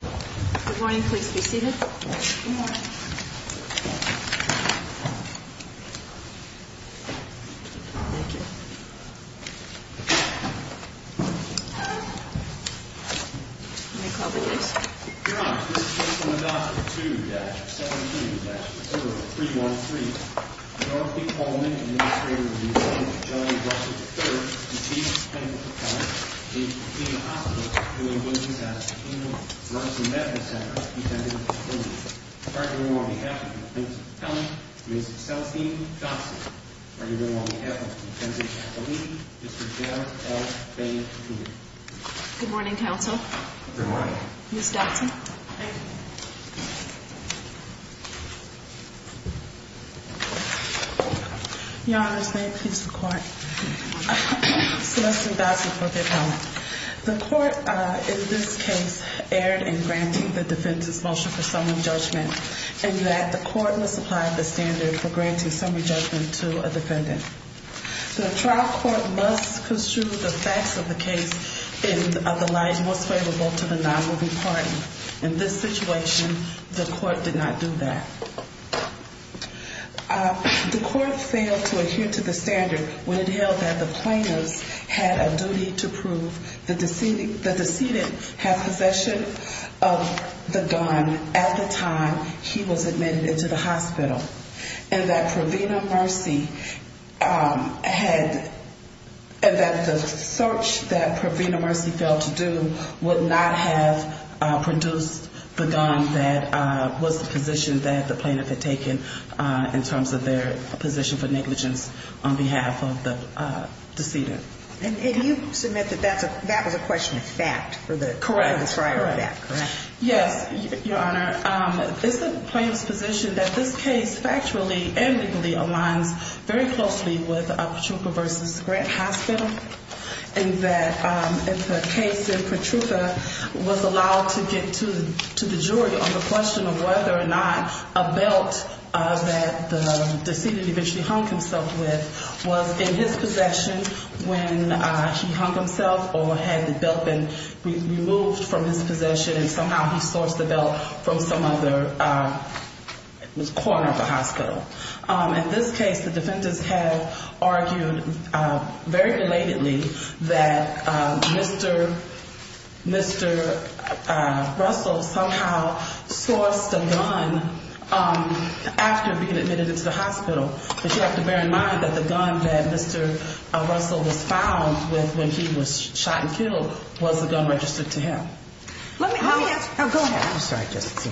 Good morning, please be seated. Good morning, I'm agoing to call in the permanent attorney, My name is James Abraham Capu President and CEO of Oklahoma Kennedand Child and Family Services, with a payment of 11 motion for summary judgment, and that the court must apply the standard for granting summary judgment to a defendant. The trial court must construe the facts of the case in light most favorable to the non-moving party. In this situation, the court did not do that. The court failed to adhere to the standard when it held that the plaintiffs had a duty to prove the decedent had possession of the gun at the time he was admitted into the hospital, and that the search that Provena Mercy failed to do would not have produced the gun that was the position that the plaintiff had taken in terms of their position for negligence on behalf of the decedent. And you submit that that was a question of fact for the trial of that, correct? Yes, Your Honor. It's the plaintiff's position that this case factually and legally aligns very closely with Petrucca v. Grant Hospital, and that if the case in Petrucca was allowed to get to the jury on the question of whether or not a belt that the decedent eventually hung himself with was in his possession when he hung himself or had the belt been removed from his possession, and somehow he sourced the belt from some other corner of the hospital. In this case, the defendants have argued very belatedly that Mr. Russell somehow sourced the gun after being admitted into the hospital, and that you have to bear in mind that the gun that Mr. Russell was found with when he was shot and killed was the gun registered to him. Let me ask you,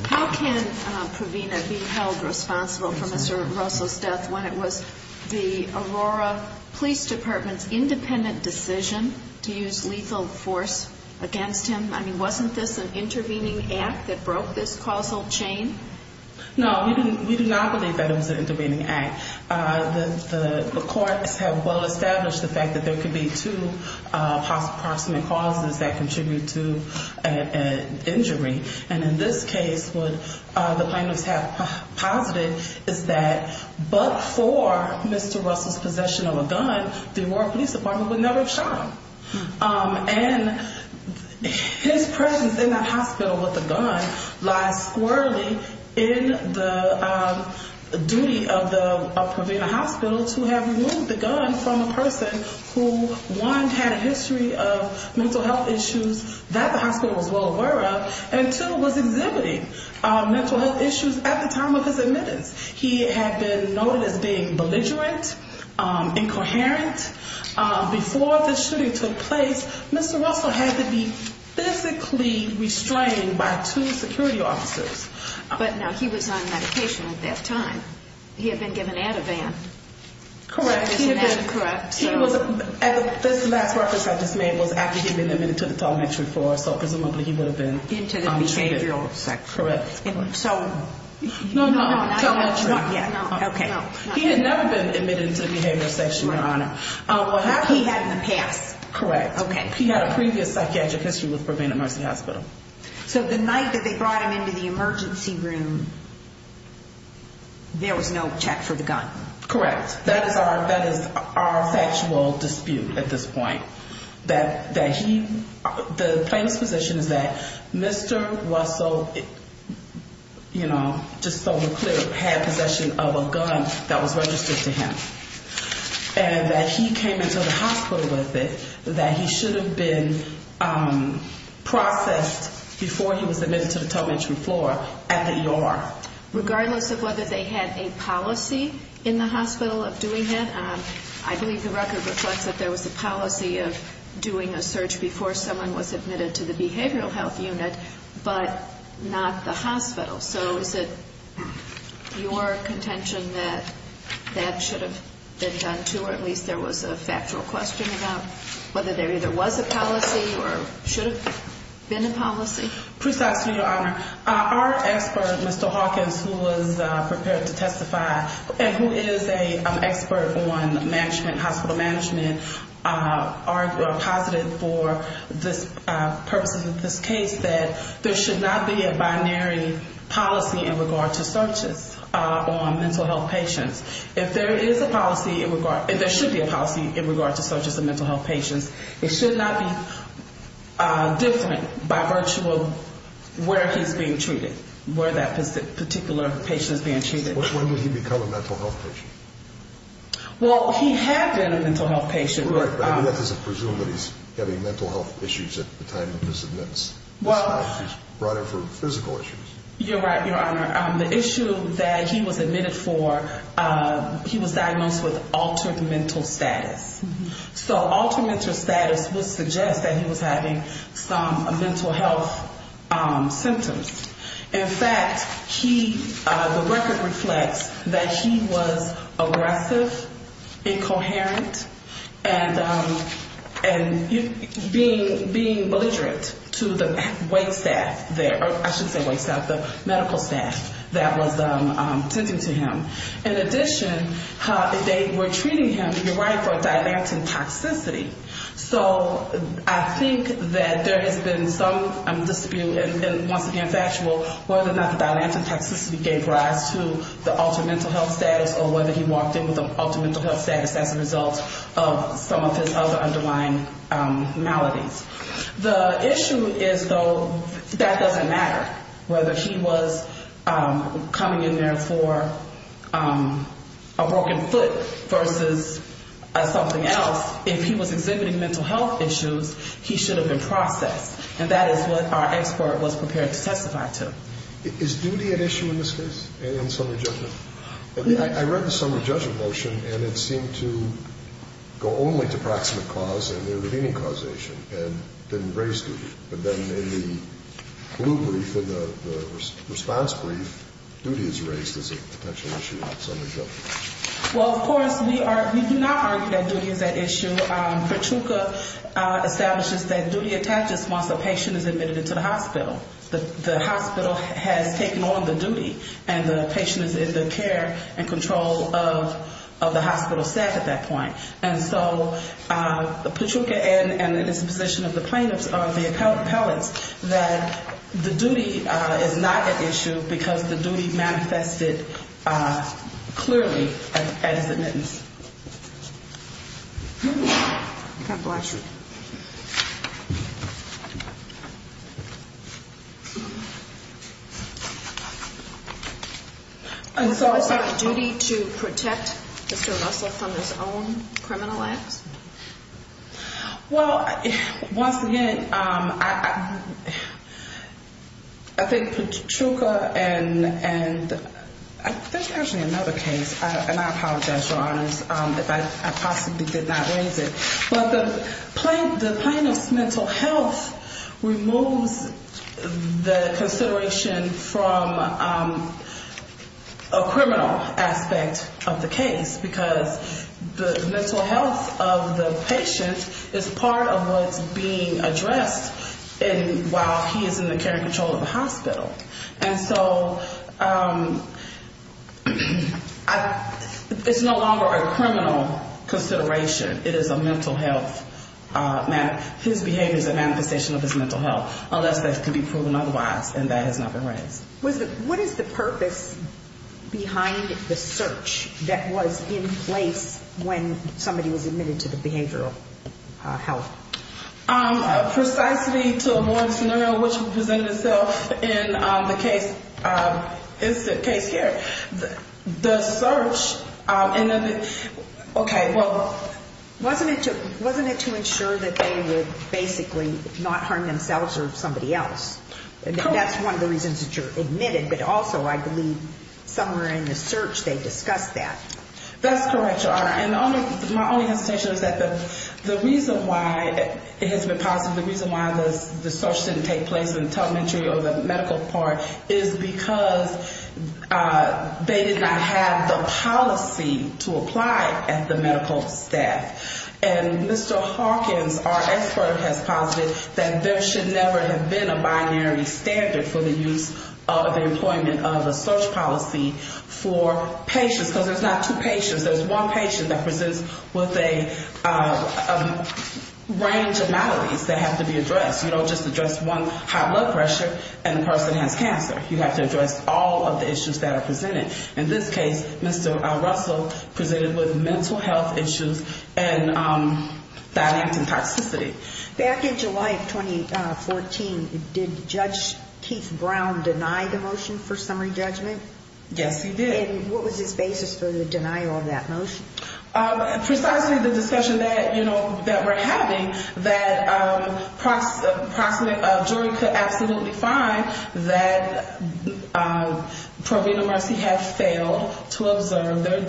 how can Provena be held responsible for Mr. Russell's death when it was the Aurora Police Department's independent decision to use lethal force against him? I mean, wasn't this an intervening act that broke this causal chain? No, we do not believe that it was an intervening act. The courts have well established the fact that there could be two possible causes that contribute to an injury, and in this case, what the plaintiffs have posited is that but for Mr. Russell's possession of a gun, the Aurora Police Department would never have shot him. And his presence in that facility in the duty of the Provena Hospital to have removed the gun from a person who one, had a history of mental health issues that the hospital was well aware of, and two, was exhibiting mental health issues at the time of his admittance. He had been noted as being belligerent, incoherent. Before the shooting took place, Mr. Russell had to be physically restrained by two security officers. But now, he was on medication at that time. He had been given Ativan. Correct. This last reference I just made was after he had been admitted to the telemetry floor, so presumably he would have been treated. Into the behavioral section. Correct. So... No, no, telemetry. Okay. He had never been admitted into the behavioral section, Your Honor. He had in the past. Correct. Okay. He had a previous psychiatric history with Provena Mercy Hospital. So the night that they brought him into the emergency room, there was no check for the gun. Correct. That is our factual dispute at this point. That he, the plaintiff's position is that Mr. Russell, you know, just so we're clear, had possession of a gun that was registered to him. And that he came into the hospital with it. That he should have been processed before he was admitted to the telemetry floor at the ER. Regardless of whether they had a policy in the hospital of doing that, I believe the record reflects that there was a policy of doing a search before someone was admitted to the behavioral health unit, but not the hospital. So is it your contention that that should have been done, too? Or at least there was a factual question about whether there either was a policy or should have been a policy? Precisely, Your Honor. Our expert, Mr. Hawkins, who was prepared to testify, and who is an expert on management, hospital management, are positive for the purposes of this case that there should not be a binary policy in regard to searches on mental health patients. If there is a policy in regard, and there should be a policy in regard to searches on mental health patients, it should not be different by virtue of where he's being treated, where that particular patient is being treated. When did he become a mental health patient? Well, he had been a mental health patient. Right, but that doesn't presume that he's having mental health issues at the time of his admittance. He's brought in for physical issues. You're right, Your Honor. The issue that he was admitted for, he was diagnosed with altered mental status. So altered mental status would suggest that he was having some mental health symptoms. In fact, he, the record reflects that he was aggressive, incoherent, and being belligerent to the wait staff there, I should say wait staff, the medical staff that was attending to him. In addition, they were treating him, and you're right, for a dialectic toxicity. So I think that there has been some dispute, and once again factual, whether or not the dialectic toxicity gave rise to the altered mental health status, or whether he walked in with an altered mental health status as a result of some of his other underlying maladies. The issue is, though, that doesn't matter. Whether he was coming in there for a broken foot versus something else, if he was exhibiting mental health issues, he should have been admitted, and our expert was prepared to testify to him. Is duty at issue in this case, in summary judgment? I read the summary judgment motion, and it seemed to go only to proximate cause and intervening causation, and didn't raise duty. But then in the blue brief, in the response brief, duty is raised as a potential issue in summary judgment. Well, of course, we do not argue that duty is at issue. Petrucca establishes that duty attaches once a week to the hospital. The hospital has taken on the duty, and the patient is in the care and control of the hospital staff at that point. And so Petrucca and his position of the plaintiffs, the appellants, that the duty is not at issue because the duty manifested clearly at his admittance. And so it's not duty to protect Mr. Russell from his own criminal acts? Well, once again, I think Petrucca and there's actually another case, and I apologize, Your Honors, if I possibly did not raise it. But the plaintiff's mental health removes the consideration from a criminal aspect of the case, because the mental health of the patient is part of what's being addressed while he is in the care and control of the hospital. And so it's no longer a matter of his mental health, his behavior is a manifestation of his mental health, unless that can be proven otherwise, and that has not been raised. What is the purpose behind the search that was in place when somebody was admitted to the behavioral health? Precisely to avoid a scenario which presented itself in the case, it's the case here. The search, okay, well, wasn't it to ensure that they would basically not harm themselves or somebody else? And that's one of the reasons that you're admitted, but also I believe somewhere in the search they discussed that. That's correct, Your Honor. And my only hesitation is that the reason why it has been possible, the reason why the search didn't take place in the telemetry or the medical part is because they did not have the policy to apply at the medical staff. And we believe, Mr. Hawkins, our expert, has posited that there should never have been a binary standard for the use of the employment of a search policy for patients. Because there's not two patients, there's one patient that presents with a range of maladies that have to be addressed. You don't just address one high blood pressure and the person has cancer. You have to address all of the issues that are presented. In this case, Mr. Russell presented with mental health issues and mental health issues. I have a family member that has recently died of phlebitis, dialectic toxicity. Back in July of 2014, did Judge Keith Brown deny the motion for summary judgment? Yes, he did. And what was his basis for the denial of that motion? Precisely the discussion that, you know, that we're having, that a jury could absolutely find that proven and mercy had failed to observe their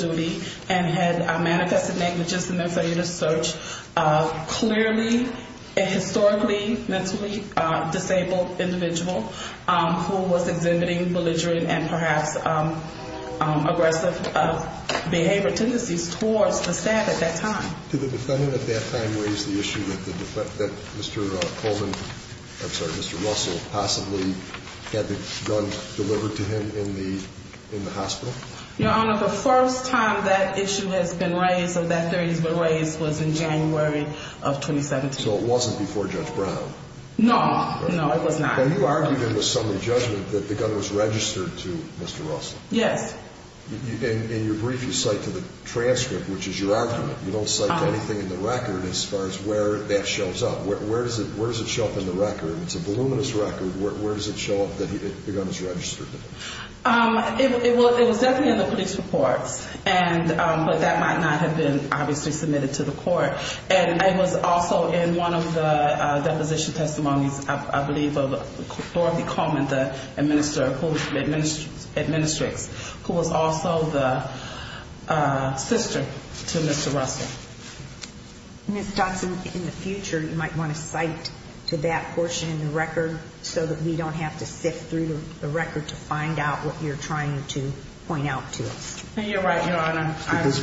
clearly and historically mentally disabled individual who was exhibiting belligerent and perhaps aggressive behavior tendencies towards the staff at that time. Did the defendant at that time raise the issue that Mr. Coleman, I'm sorry, Mr. Russell, possibly had the gun delivered to him in the hospital? Your Honor, the first time that issue has been raised or that theory has been raised was in January of 2017. So it wasn't before Judge Brown? No, no, it was not. And you argued in the summary judgment that the gun was registered to Mr. Russell? Yes. In your brief, you cite to the transcript, which is your argument. You don't cite anything in the record as far as where that shows up. Where does it show up in the record? It's a voluminous record. Where does it show up that the gun is registered? It was definitely in the police report, but that might not have been obviously submitted to the court. And it was also in one of the deposition testimonies, I believe, of Dorothy Coleman, the administrator, who was also the sister to Mr. Russell. Ms. Johnson, in the future, you might want to cite to that portion in the record so that we don't have to sift through the record to find out what you're trying to point out to us. You're right, Your Honor.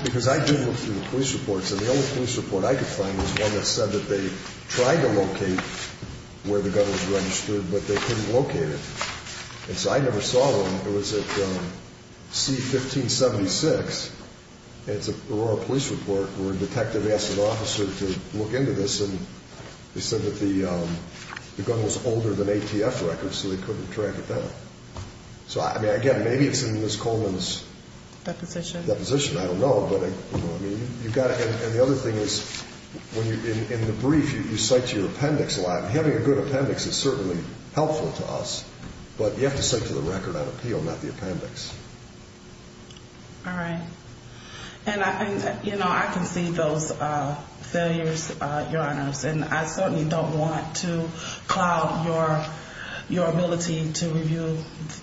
Because I did look through the police reports, and the only police report I could find was one that said that they tried to locate where the gun was registered, but they couldn't locate it. And so I never saw one. It was at C-1576. It's an Aurora police report where a detective asked an officer to look into this, and they said that the gun was older than ATF records, so they couldn't track it down. So, again, maybe it's in Ms. Coleman's deposition. I don't know. And the other thing is, in the brief, you cite your appendix a lot. Having a good appendix is certainly helpful to us, but you have to cite to the record on appeal, not the appendix. All right. And I think, you know, I can see those failures, Your Honors, and I certainly don't want to cloud your ability to review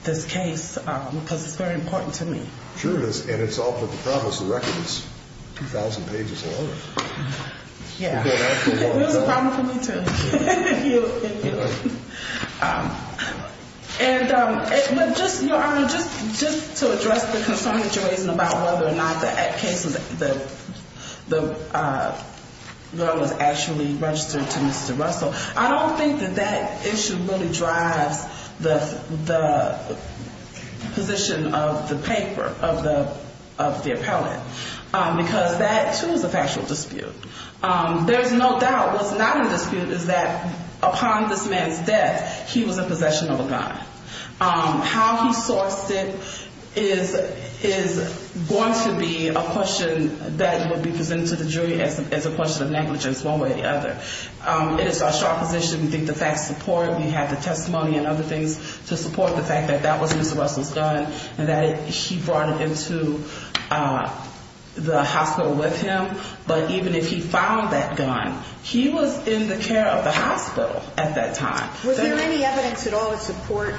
this case because it's very important to me. Sure it is, and it's all for the promise. The record is 2,000 pages long. Yeah. It was a problem for me, too. And just, Your Honor, just to address the concern that you raised about whether or not that case, the gun was actually registered to Mr. Russell. I don't think that that issue really drives the position of the paper, of the appellate, because that, too, is a factual dispute. There's no doubt, what's not a dispute is that upon this man's death, he was in possession of a gun. How he sourced it is going to be a question that would be presented to the jury as a question of negligence one way or the other. It is our strong position, we think the facts support, we have the testimony and other things to support the fact that that was Mr. Russell's gun and that he brought it into the hospital with him. But even if he found that gun, he was in the care of the hospital at that time. Was there any evidence at all to support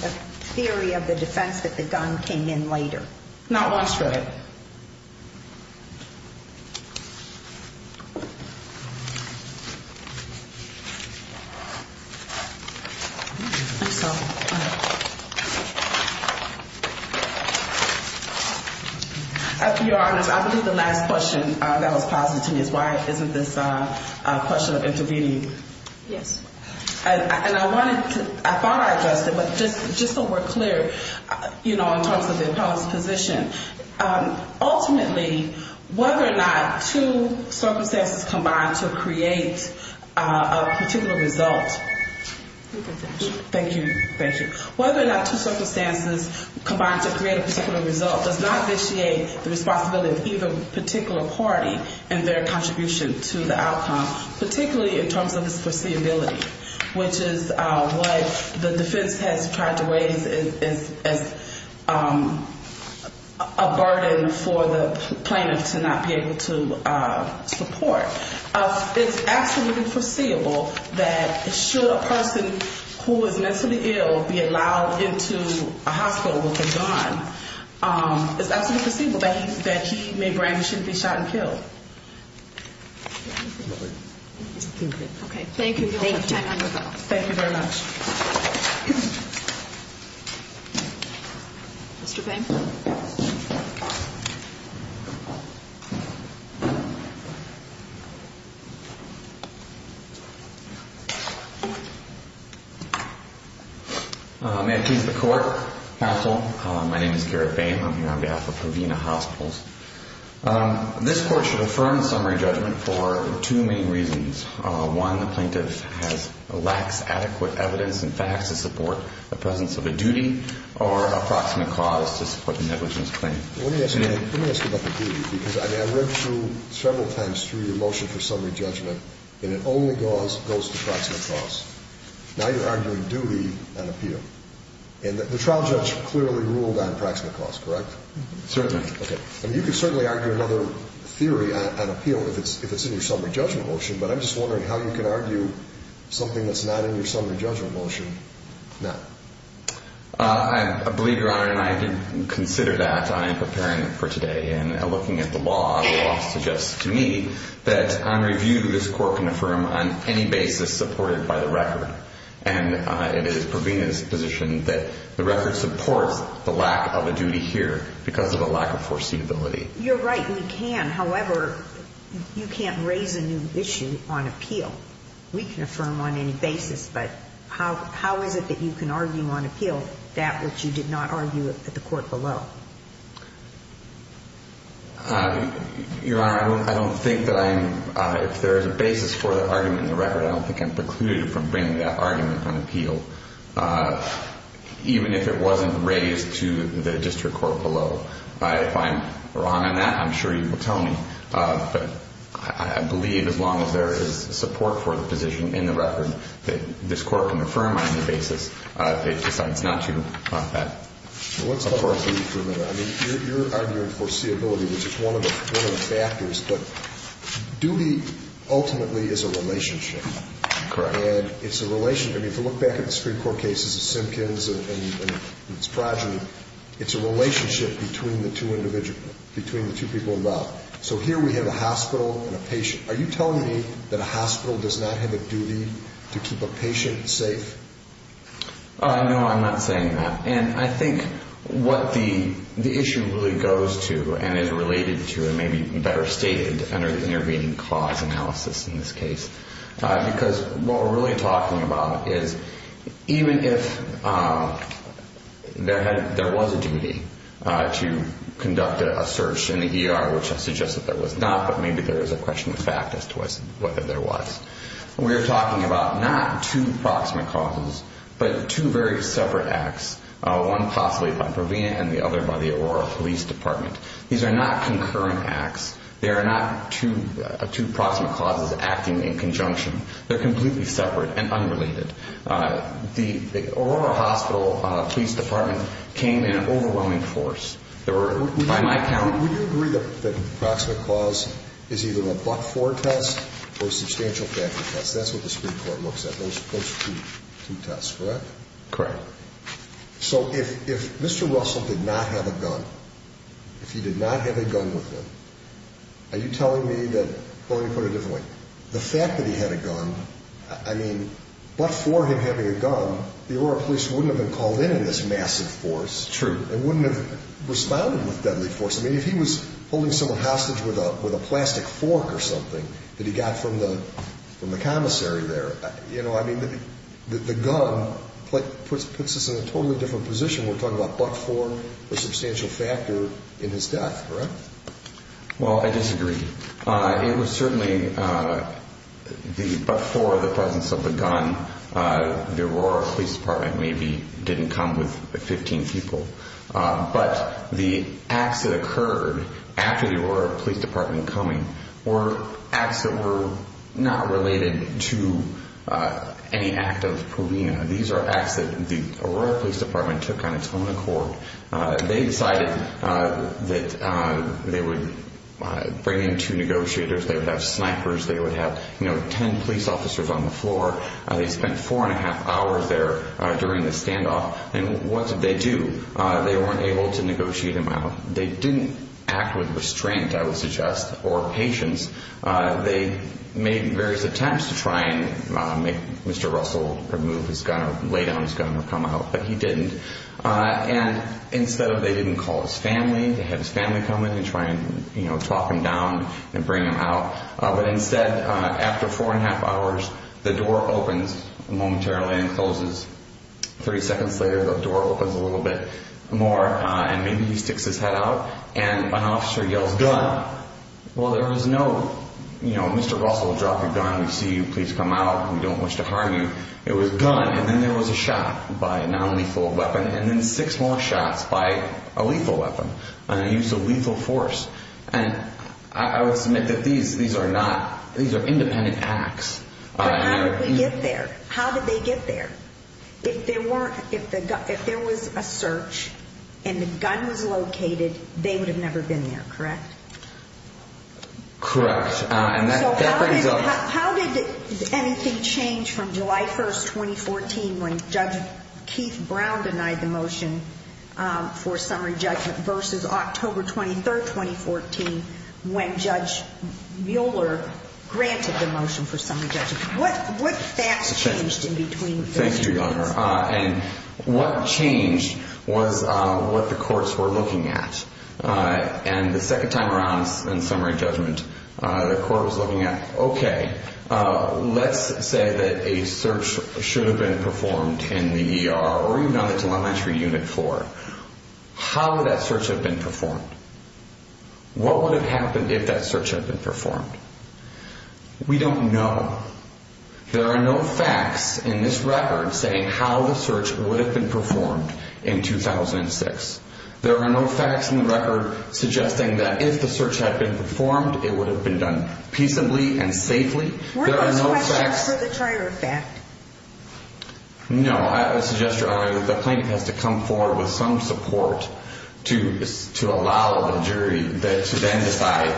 the theory of the defense that the gun came in later? I think so. Your Honor, I believe the last question that was posited to me is why isn't this a question of intervening? Yes. And I wanted to, I thought I addressed it, but just so we're clear, you know, in terms of the appellate's position, ultimately, whether or not two circumstances combine to create a particular result, does not vitiate the responsibility of either particular party in their contribution to the outcome, particularly in terms of its foreseeability, which is what the defense has tried to raise as a burden for the plaintiff to not be able to support. It's absolutely foreseeable that should a person who is mentally ill be allowed into a hospital with a gun, it's absolutely foreseeable that he may brandish it and be shot and killed. Thank you. Thank you very much. May I please have the court counsel? My name is Garrett Bain. I'm here on behalf of Havena Hospitals. This court should affirm the summary judgment for two main reasons. One, the plaintiff has lax, adequate evidence and facts to support the presence of a duty or approximate cause to support the negligence claim. Let me ask you about the duty, because I mean, I read through several times through your motion for summary judgment, and it only goes to approximate cause. Now you're arguing duty on appeal. And the trial judge clearly ruled on approximate cause, correct? Certainly. Okay. And you can certainly argue another theory on appeal if it's in your summary judgment motion, but I'm just wondering how you can argue something that's not in your summary judgment motion now. I believe, Your Honor, and I did consider that in preparing for today. And looking at the law, the law suggests to me that on review, this court can affirm on any basis supported by the record. And it is Provena's position that the record supports the lack of a duty here because of a lack of foreseeable cause. You're right, we can, however, you can't raise a new issue on appeal. We can affirm on any basis, but how is it that you can argue on appeal that which you did not argue at the court below? Your Honor, I don't think that I'm, if there is a basis for the argument in the record, I don't think I'm precluded from bringing that argument on appeal, even if it wasn't raised to the district court below. So if I'm wrong on that, I'm sure you will tell me. But I believe as long as there is support for the position in the record that this court can affirm on any basis, it's not too bad. Let's talk about duty for a minute. I mean, you're arguing foreseeability, which is one of the factors, but duty ultimately is a relationship. Correct. And it's a relationship. I mean, if you look back at the Supreme Court cases of Simpkins and Spradley, it's a relationship between the two individuals, between the two people involved. So here we have a hospital and a patient. Are you telling me that a hospital does not have a duty to keep a patient safe? No, I'm not saying that. And I think what the issue really goes to and is related to, and maybe better stated under the intervening clause analysis in this case, because what we're really talking about is even if there was a duty to conduct a search in the ER, which I suggest that there was not, but maybe there is a question of fact as to whether there was, we're talking about not two proximate causes, but two very separate acts of duty. One possibly by Provena and the other by the Aurora Police Department. These are not concurrent acts. They are not two proximate causes acting in conjunction. They're completely separate and unrelated. The Aurora Hospital Police Department came in an overwhelming force. Would you agree that the proximate cause is either a but-for test or a substantial factor test? That's what the Supreme Court looks at, those two tests, correct? Correct. So if Mr. Russell did not have a gun, if he did not have a gun with him, are you telling me that, well, let me put it a different way. The fact that he had a gun, I mean, but for him having a gun, the Aurora Police wouldn't have been called in in this massive force. True. And wouldn't have responded with deadly force. I mean, if he was holding someone hostage with a plastic fork or something that he got from the commissary there, you know, I mean, the gun puts us in a totally different position. We're talking about but-for, a substantial factor in his death, correct? Well, I disagree. It was certainly the but-for, the presence of the gun, the Aurora Police Department maybe didn't come with 15 people. But the acts that occurred after the Aurora Police Department coming were acts that were not related to any act of provenia. These are acts that the Aurora Police Department took on its own accord. They decided that they would bring in two negotiators, they would have snipers, they would have, you know, 10 police officers on the floor. They spent four and a half hours there during the standoff. And what did they do? They weren't able to negotiate him out. They didn't act with restraint, I would suggest, or patience. They made various attempts to try and make Mr. Russell remove his gun or lay down his gun or come out, but he didn't. And instead, they didn't call his family. They had his family come in and try and, you know, talk him down and bring him out. But instead, after four and a half hours, the door opens momentarily and closes. 30 seconds later, the door opens a little bit more, and maybe he sticks his head out. And an officer yells, gun. Well, there was no, you know, Mr. Russell, drop your gun, we see you, please come out, we don't wish to harm you. It was gun, and then there was a shot by a nonlethal weapon, and then six more shots by a lethal weapon, and a use of lethal force. And I would submit that these are not, these are independent acts. But how did we get there? How did they get there? If there weren't, if there was a search and the gun was located, they would have never been there, correct? Correct. And that brings up. So how did anything change from July 1st, 2014, when Judge Keith Brown denied the motion for summary judgment, versus October 23rd, 2014, when Judge Mueller granted the motion for summary judgment? What facts changed in between those events? Thank you, Your Honor. And what changed was what the courts were looking at. And the second time around in summary judgment, the court was looking at, okay, let's say that a search should have been performed in the ER, or even on the telemetry unit floor. How would that search have been performed? What would have happened if that search had been performed? We don't know. There are no facts in this record saying how the search would have been performed in 2006. There are no facts in the record suggesting that if the search had been performed, it would have been done peaceably and safely. Were those questions for the trier of fact? No. I suggest, Your Honor, that the plaintiff has to come forward with some support to allow the jury to then decide,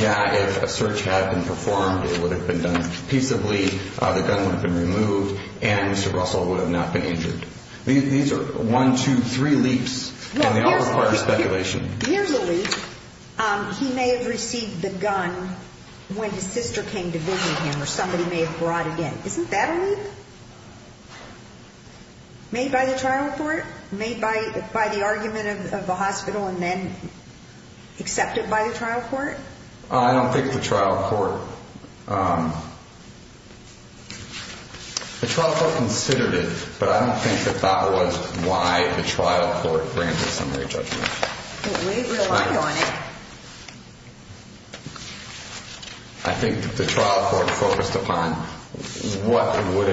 yeah, if a search had been performed, it would have been done peaceably, the gun would have been removed, and Mr. Russell would have not been injured. These are one, two, three leaps, and they all require speculation. Here's a leap. He may have received the gun when his sister came to visit him or somebody may have brought it in. Isn't that a leap? Based on the trial of the hospital? Made by the trial court? Made by the argument of the hospital and then accepted by the trial court? I don't think the trial court considered it, but I don't think that that was why the trial court granted the summary judgment. We rely on it. I think the trial court focused upon what would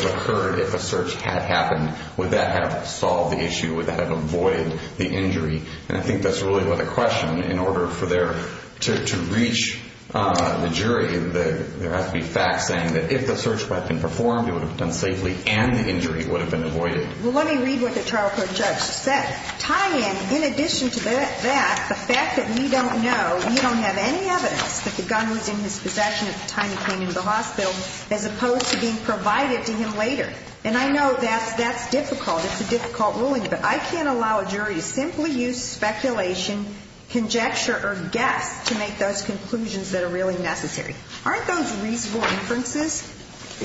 have occurred if a search had happened. Would that have solved the issue? Would that have avoided the injury? And I think that's really what the question, in order to reach the jury, there has to be facts saying that if the search had been performed, it would have been done safely and the injury would have been avoided. Well, let me read what the trial court judge said. Tie in, in addition to that, the fact that we don't know, we don't have any evidence that the gun was in his possession at the time he came into the hospital, as opposed to being provided to him later. And I know that's difficult. It's a difficult ruling, but I can't allow a jury to simply use speculation, conjecture, or guess to make those conclusions that are really necessary. Aren't those reasonable inferences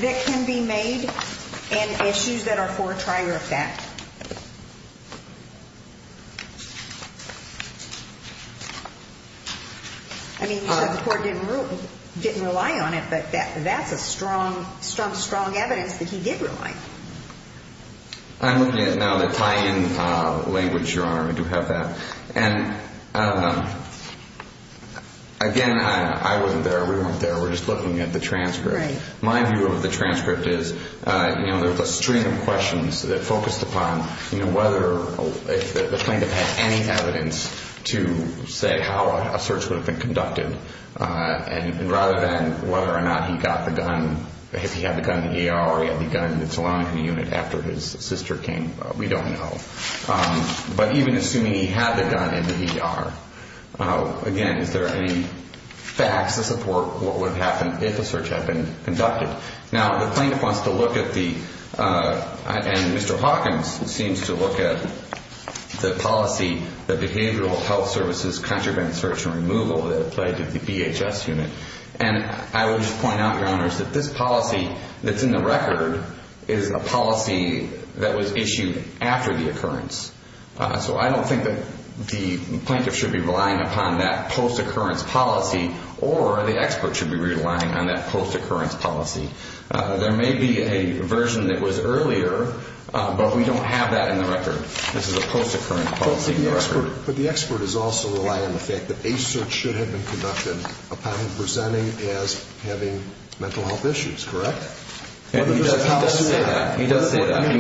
that can be made and issues that are for trial effect? I mean, the court didn't rely on it, but that's a strong, strong, strong evidence that he did rely. I'm looking at now the tie-in language, Your Honor. I do have that. And, again, I wasn't there. We weren't there. We're just looking at the transcript. My view of the transcript is, you know, there was a string of questions that focused upon, you know, whether the plaintiff had any evidence to say how a search would have been conducted. And rather than whether or not he got the gun, if he had the gun in the ER or he had the gun in the telemetry unit after his sister came, we don't know. But even assuming he had the gun in the ER, again, is there any facts to support what would have happened if a search had been conducted? Now, the plaintiff wants to look at the – and Mr. Hawkins seems to look at the policy, the behavioral health services contraband search and removal that applied to the BHS unit. And I would just point out, Your Honors, that this policy that's in the record is a policy that was issued after the occurrence. So I don't think that the plaintiff should be relying upon that post-occurrence policy, or the expert should be relying on that post-occurrence policy. There may be a version that was earlier, but we don't have that in the record. This is a post-occurrence policy in the record. But the expert is also relying on the fact that a search should have been conducted upon him presenting as having mental health issues, correct? He does say that.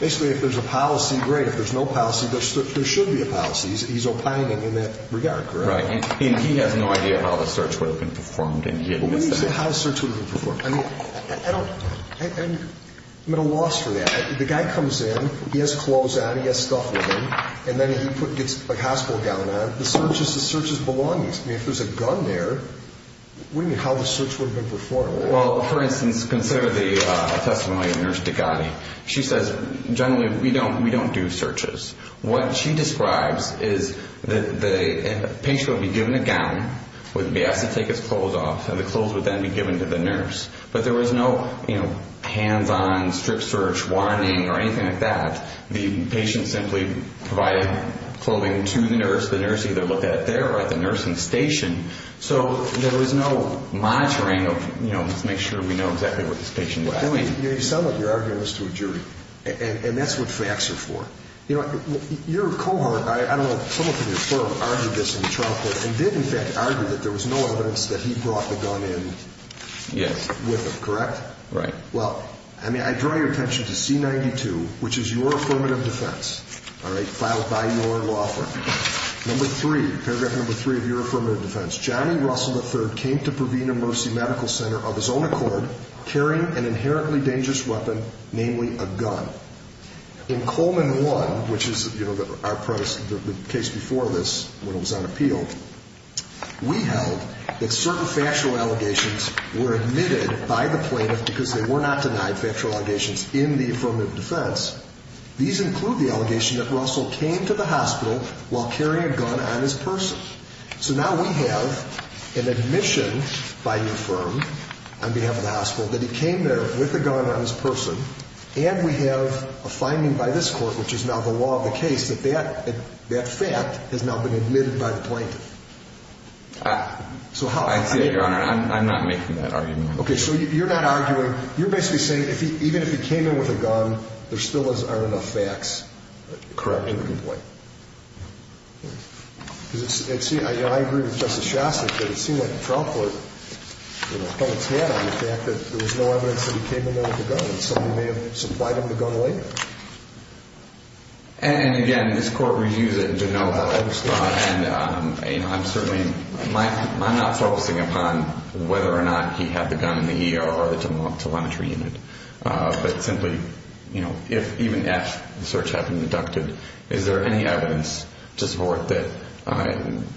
Basically, if there's a policy, great. If there's no policy, there should be a policy. He's opining in that regard, correct? Right. And he has no idea how the search would have been performed. When you say how the search would have been performed, I don't – I'm at a loss for that. The guy comes in, he has clothes on, he has stuff with him, and then he gets a hospital gown on. The search is the search's belongings. I mean, if there's a gun there, what do you mean, how the search would have been performed? Well, for instance, consider the testimony of Nurse Degati. She says generally we don't do searches. What she describes is the patient would be given a gown, would be asked to take his clothes off, and the clothes would then be given to the nurse. But there was no hands-on, strip search, warning, or anything like that. The patient simply provided clothing to the nurse. The nurse either looked at it there or at the nursing station. So there was no monitoring of, you know, let's make sure we know exactly where this patient was. You sound like you're arguing this to a jury, and that's what facts are for. You know, your cohort, I don't know, someone from your firm argued this in the trial court, and did in fact argue that there was no evidence that he brought the gun in with him, correct? Right. Well, I mean, I draw your attention to C-92, which is your affirmative defense, all right, filed by your law firm. Number three, paragraph number three of your affirmative defense, Johnny Russell III came to Purvina Mercy Medical Center of his own accord carrying an inherently dangerous weapon, namely a gun. In Coleman I, which is, you know, the case before this when it was on appeal, we held that certain factual allegations were admitted by the plaintiff because they were not denied factual allegations in the affirmative defense. These include the allegation that Russell came to the hospital while carrying a gun on his person. So now we have an admission by your firm on behalf of the hospital that he came there with a gun on his person, and we have a finding by this court, which is now the law of the case, that that fact has now been admitted by the plaintiff. I see that, Your Honor. I'm not making that argument. Okay, so you're not arguing, you're basically saying even if he came in with a gun, there still aren't enough facts. Correct. I agree with Justice Shostak that it seemed like the trial court, you know, may have supplied him the gun later. And, again, this court reviews it to know how it was thought, and I'm certainly not focusing upon whether or not he had the gun in the ER or the telemetry unit, but simply, you know, if even F, the search had been deducted, is there any evidence to support that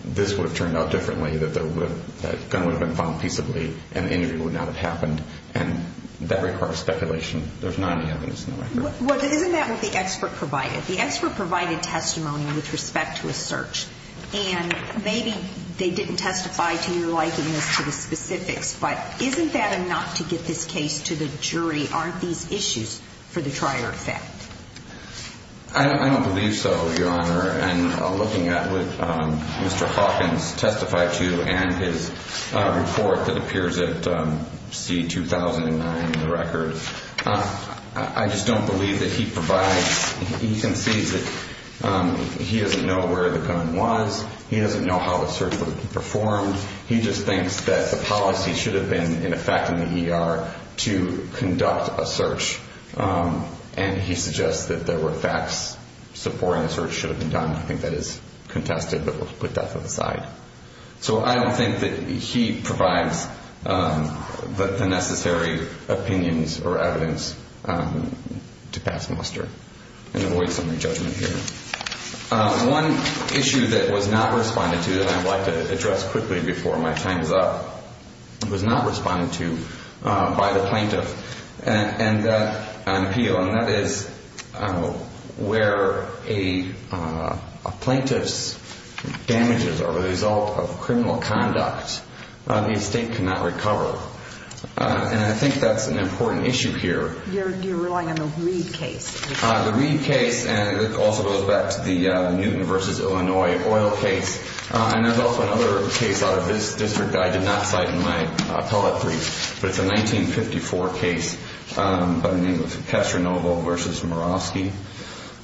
this would have turned out differently, that the gun would have been found peaceably and the injury would not have happened, and that requires speculation. There's not any evidence in the record. Well, isn't that what the expert provided? The expert provided testimony with respect to a search, and maybe they didn't testify to your likeness to the specifics, but isn't that enough to get this case to the jury? Aren't these issues for the trier effect? I don't believe so, Your Honor. And looking at what Mr. Hawkins testified to and his report that appears at C-2009 in the record, I just don't believe that he provides, he concedes that he doesn't know where the gun was. He doesn't know how the search was performed. He just thinks that the policy should have been in effect in the ER to conduct a search, and he suggests that there were facts supporting the search should have been done. I think that is contested, but we'll put that to the side. So I don't think that he provides the necessary opinions or evidence to pass muster and avoid some re-judgment here. One issue that was not responded to that I'd like to address quickly before my time is up, was not responded to by the plaintiff on appeal, and that is where a plaintiff's damages are the result of criminal conduct. The estate cannot recover. And I think that's an important issue here. You're relying on the Reed case. The Reed case, and it also goes back to the Newton v. Illinois oil case. And there's also another case out of this district that I did not cite in my appellate brief, but it's a 1954 case by the name of Castronovo v. Murawski.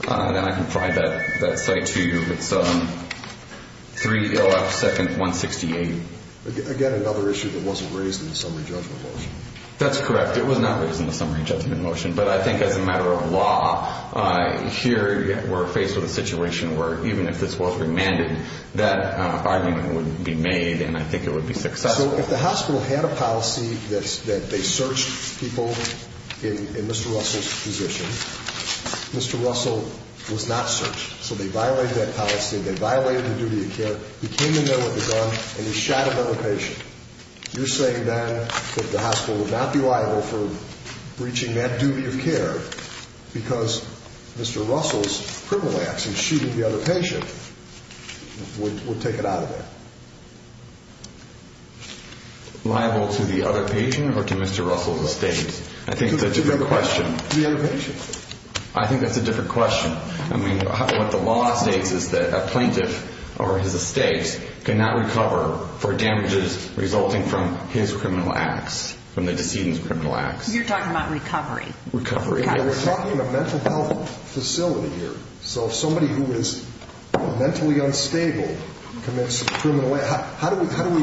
And I can provide that cite to you. It's 302nd-168. Again, another issue that wasn't raised in the summary judgment motion. That's correct. It was not raised in the summary judgment motion. But I think as a matter of law, here we're faced with a situation where, even if this was remanded, that argument wouldn't be made, and I think it would be successful. So if the hospital had a policy that they searched people in Mr. Russell's position, Mr. Russell was not searched, so they violated that policy. They violated the duty of care. He came in there with a gun, and he shot another patient. You're saying then that the hospital would not be liable for breaching that duty of care because Mr. Russell's criminal acts in shooting the other patient would take it out of there? Liable to the other patient or to Mr. Russell's estate? I think that's a different question. The other patient. I think that's a different question. I mean, what the law states is that a plaintiff or his estate cannot recover for damages resulting from his criminal acts, from the decedent's criminal acts. You're talking about recovery. We're talking a mental health facility here. So if somebody who is mentally unstable commits a criminal act, how do we find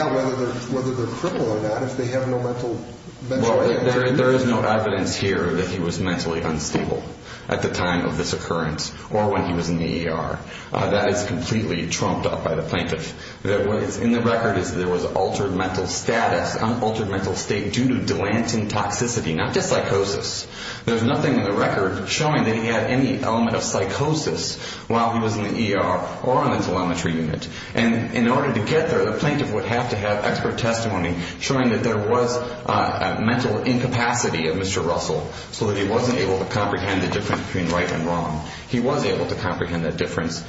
out whether they're crippled or not if they have no mental aid? There is no evidence here that he was mentally unstable at the time of this occurrence or when he was in the ER. That is completely trumped up by the plaintiff. What is in the record is that there was altered mental status, unaltered mental state due to Dilantin toxicity, not just psychosis. There's nothing in the record showing that he had any element of psychosis while he was in the ER or on the telemetry unit. And in order to get there, the plaintiff would have to have expert testimony showing that there was a mental incapacity of Mr. Russell so that he wasn't able to comprehend the difference between right and wrong. He was able to comprehend that difference.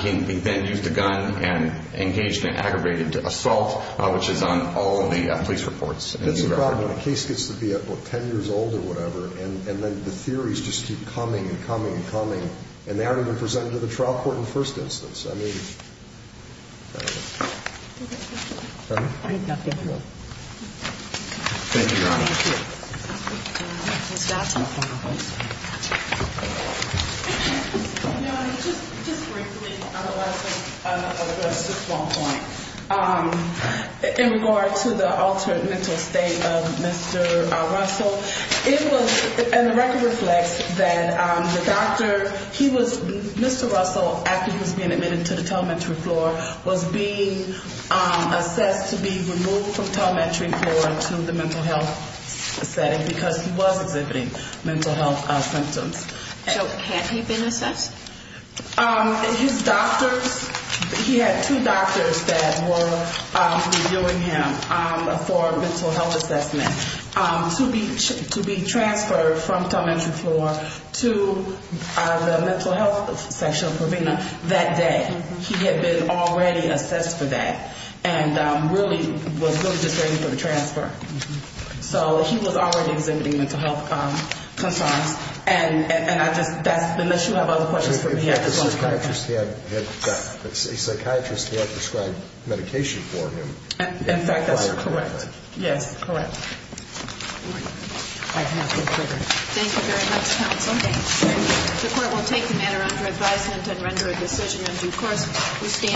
He then used a gun and engaged in an aggravated assault, which is on all of the police reports. That's the problem. A case gets to be at, what, 10 years old or whatever, and then the theories just keep coming and coming and coming, and they aren't even presented to the trial court in the first instance. I mean, I don't know. Thank you, Your Honor. Thank you. Ms. Dotson. Your Honor, just briefly on the last point, in regard to the altered mental state of Mr. Russell, it was in the record reflects that the doctor, he was, Mr. Russell, after he was being admitted to the telemetry floor, was being assessed to be removed from telemetry floor to the mental health setting because he was exhibiting mental health symptoms. So had he been assessed? His doctors, he had two doctors that were reviewing him for mental health assessment to be transferred from telemetry floor to the mental health section of Provena that day. He had been already assessed for that and really was just waiting for the transfer. So he was already exhibiting mental health concerns. And I just, unless you have other questions for me, I just want to clarify that. The psychiatrist had prescribed medication for him. In fact, that's correct. Yes, correct. Thank you very much, counsel. Thank you. The court will take the matter under advisement and render a decision in due course. We stand.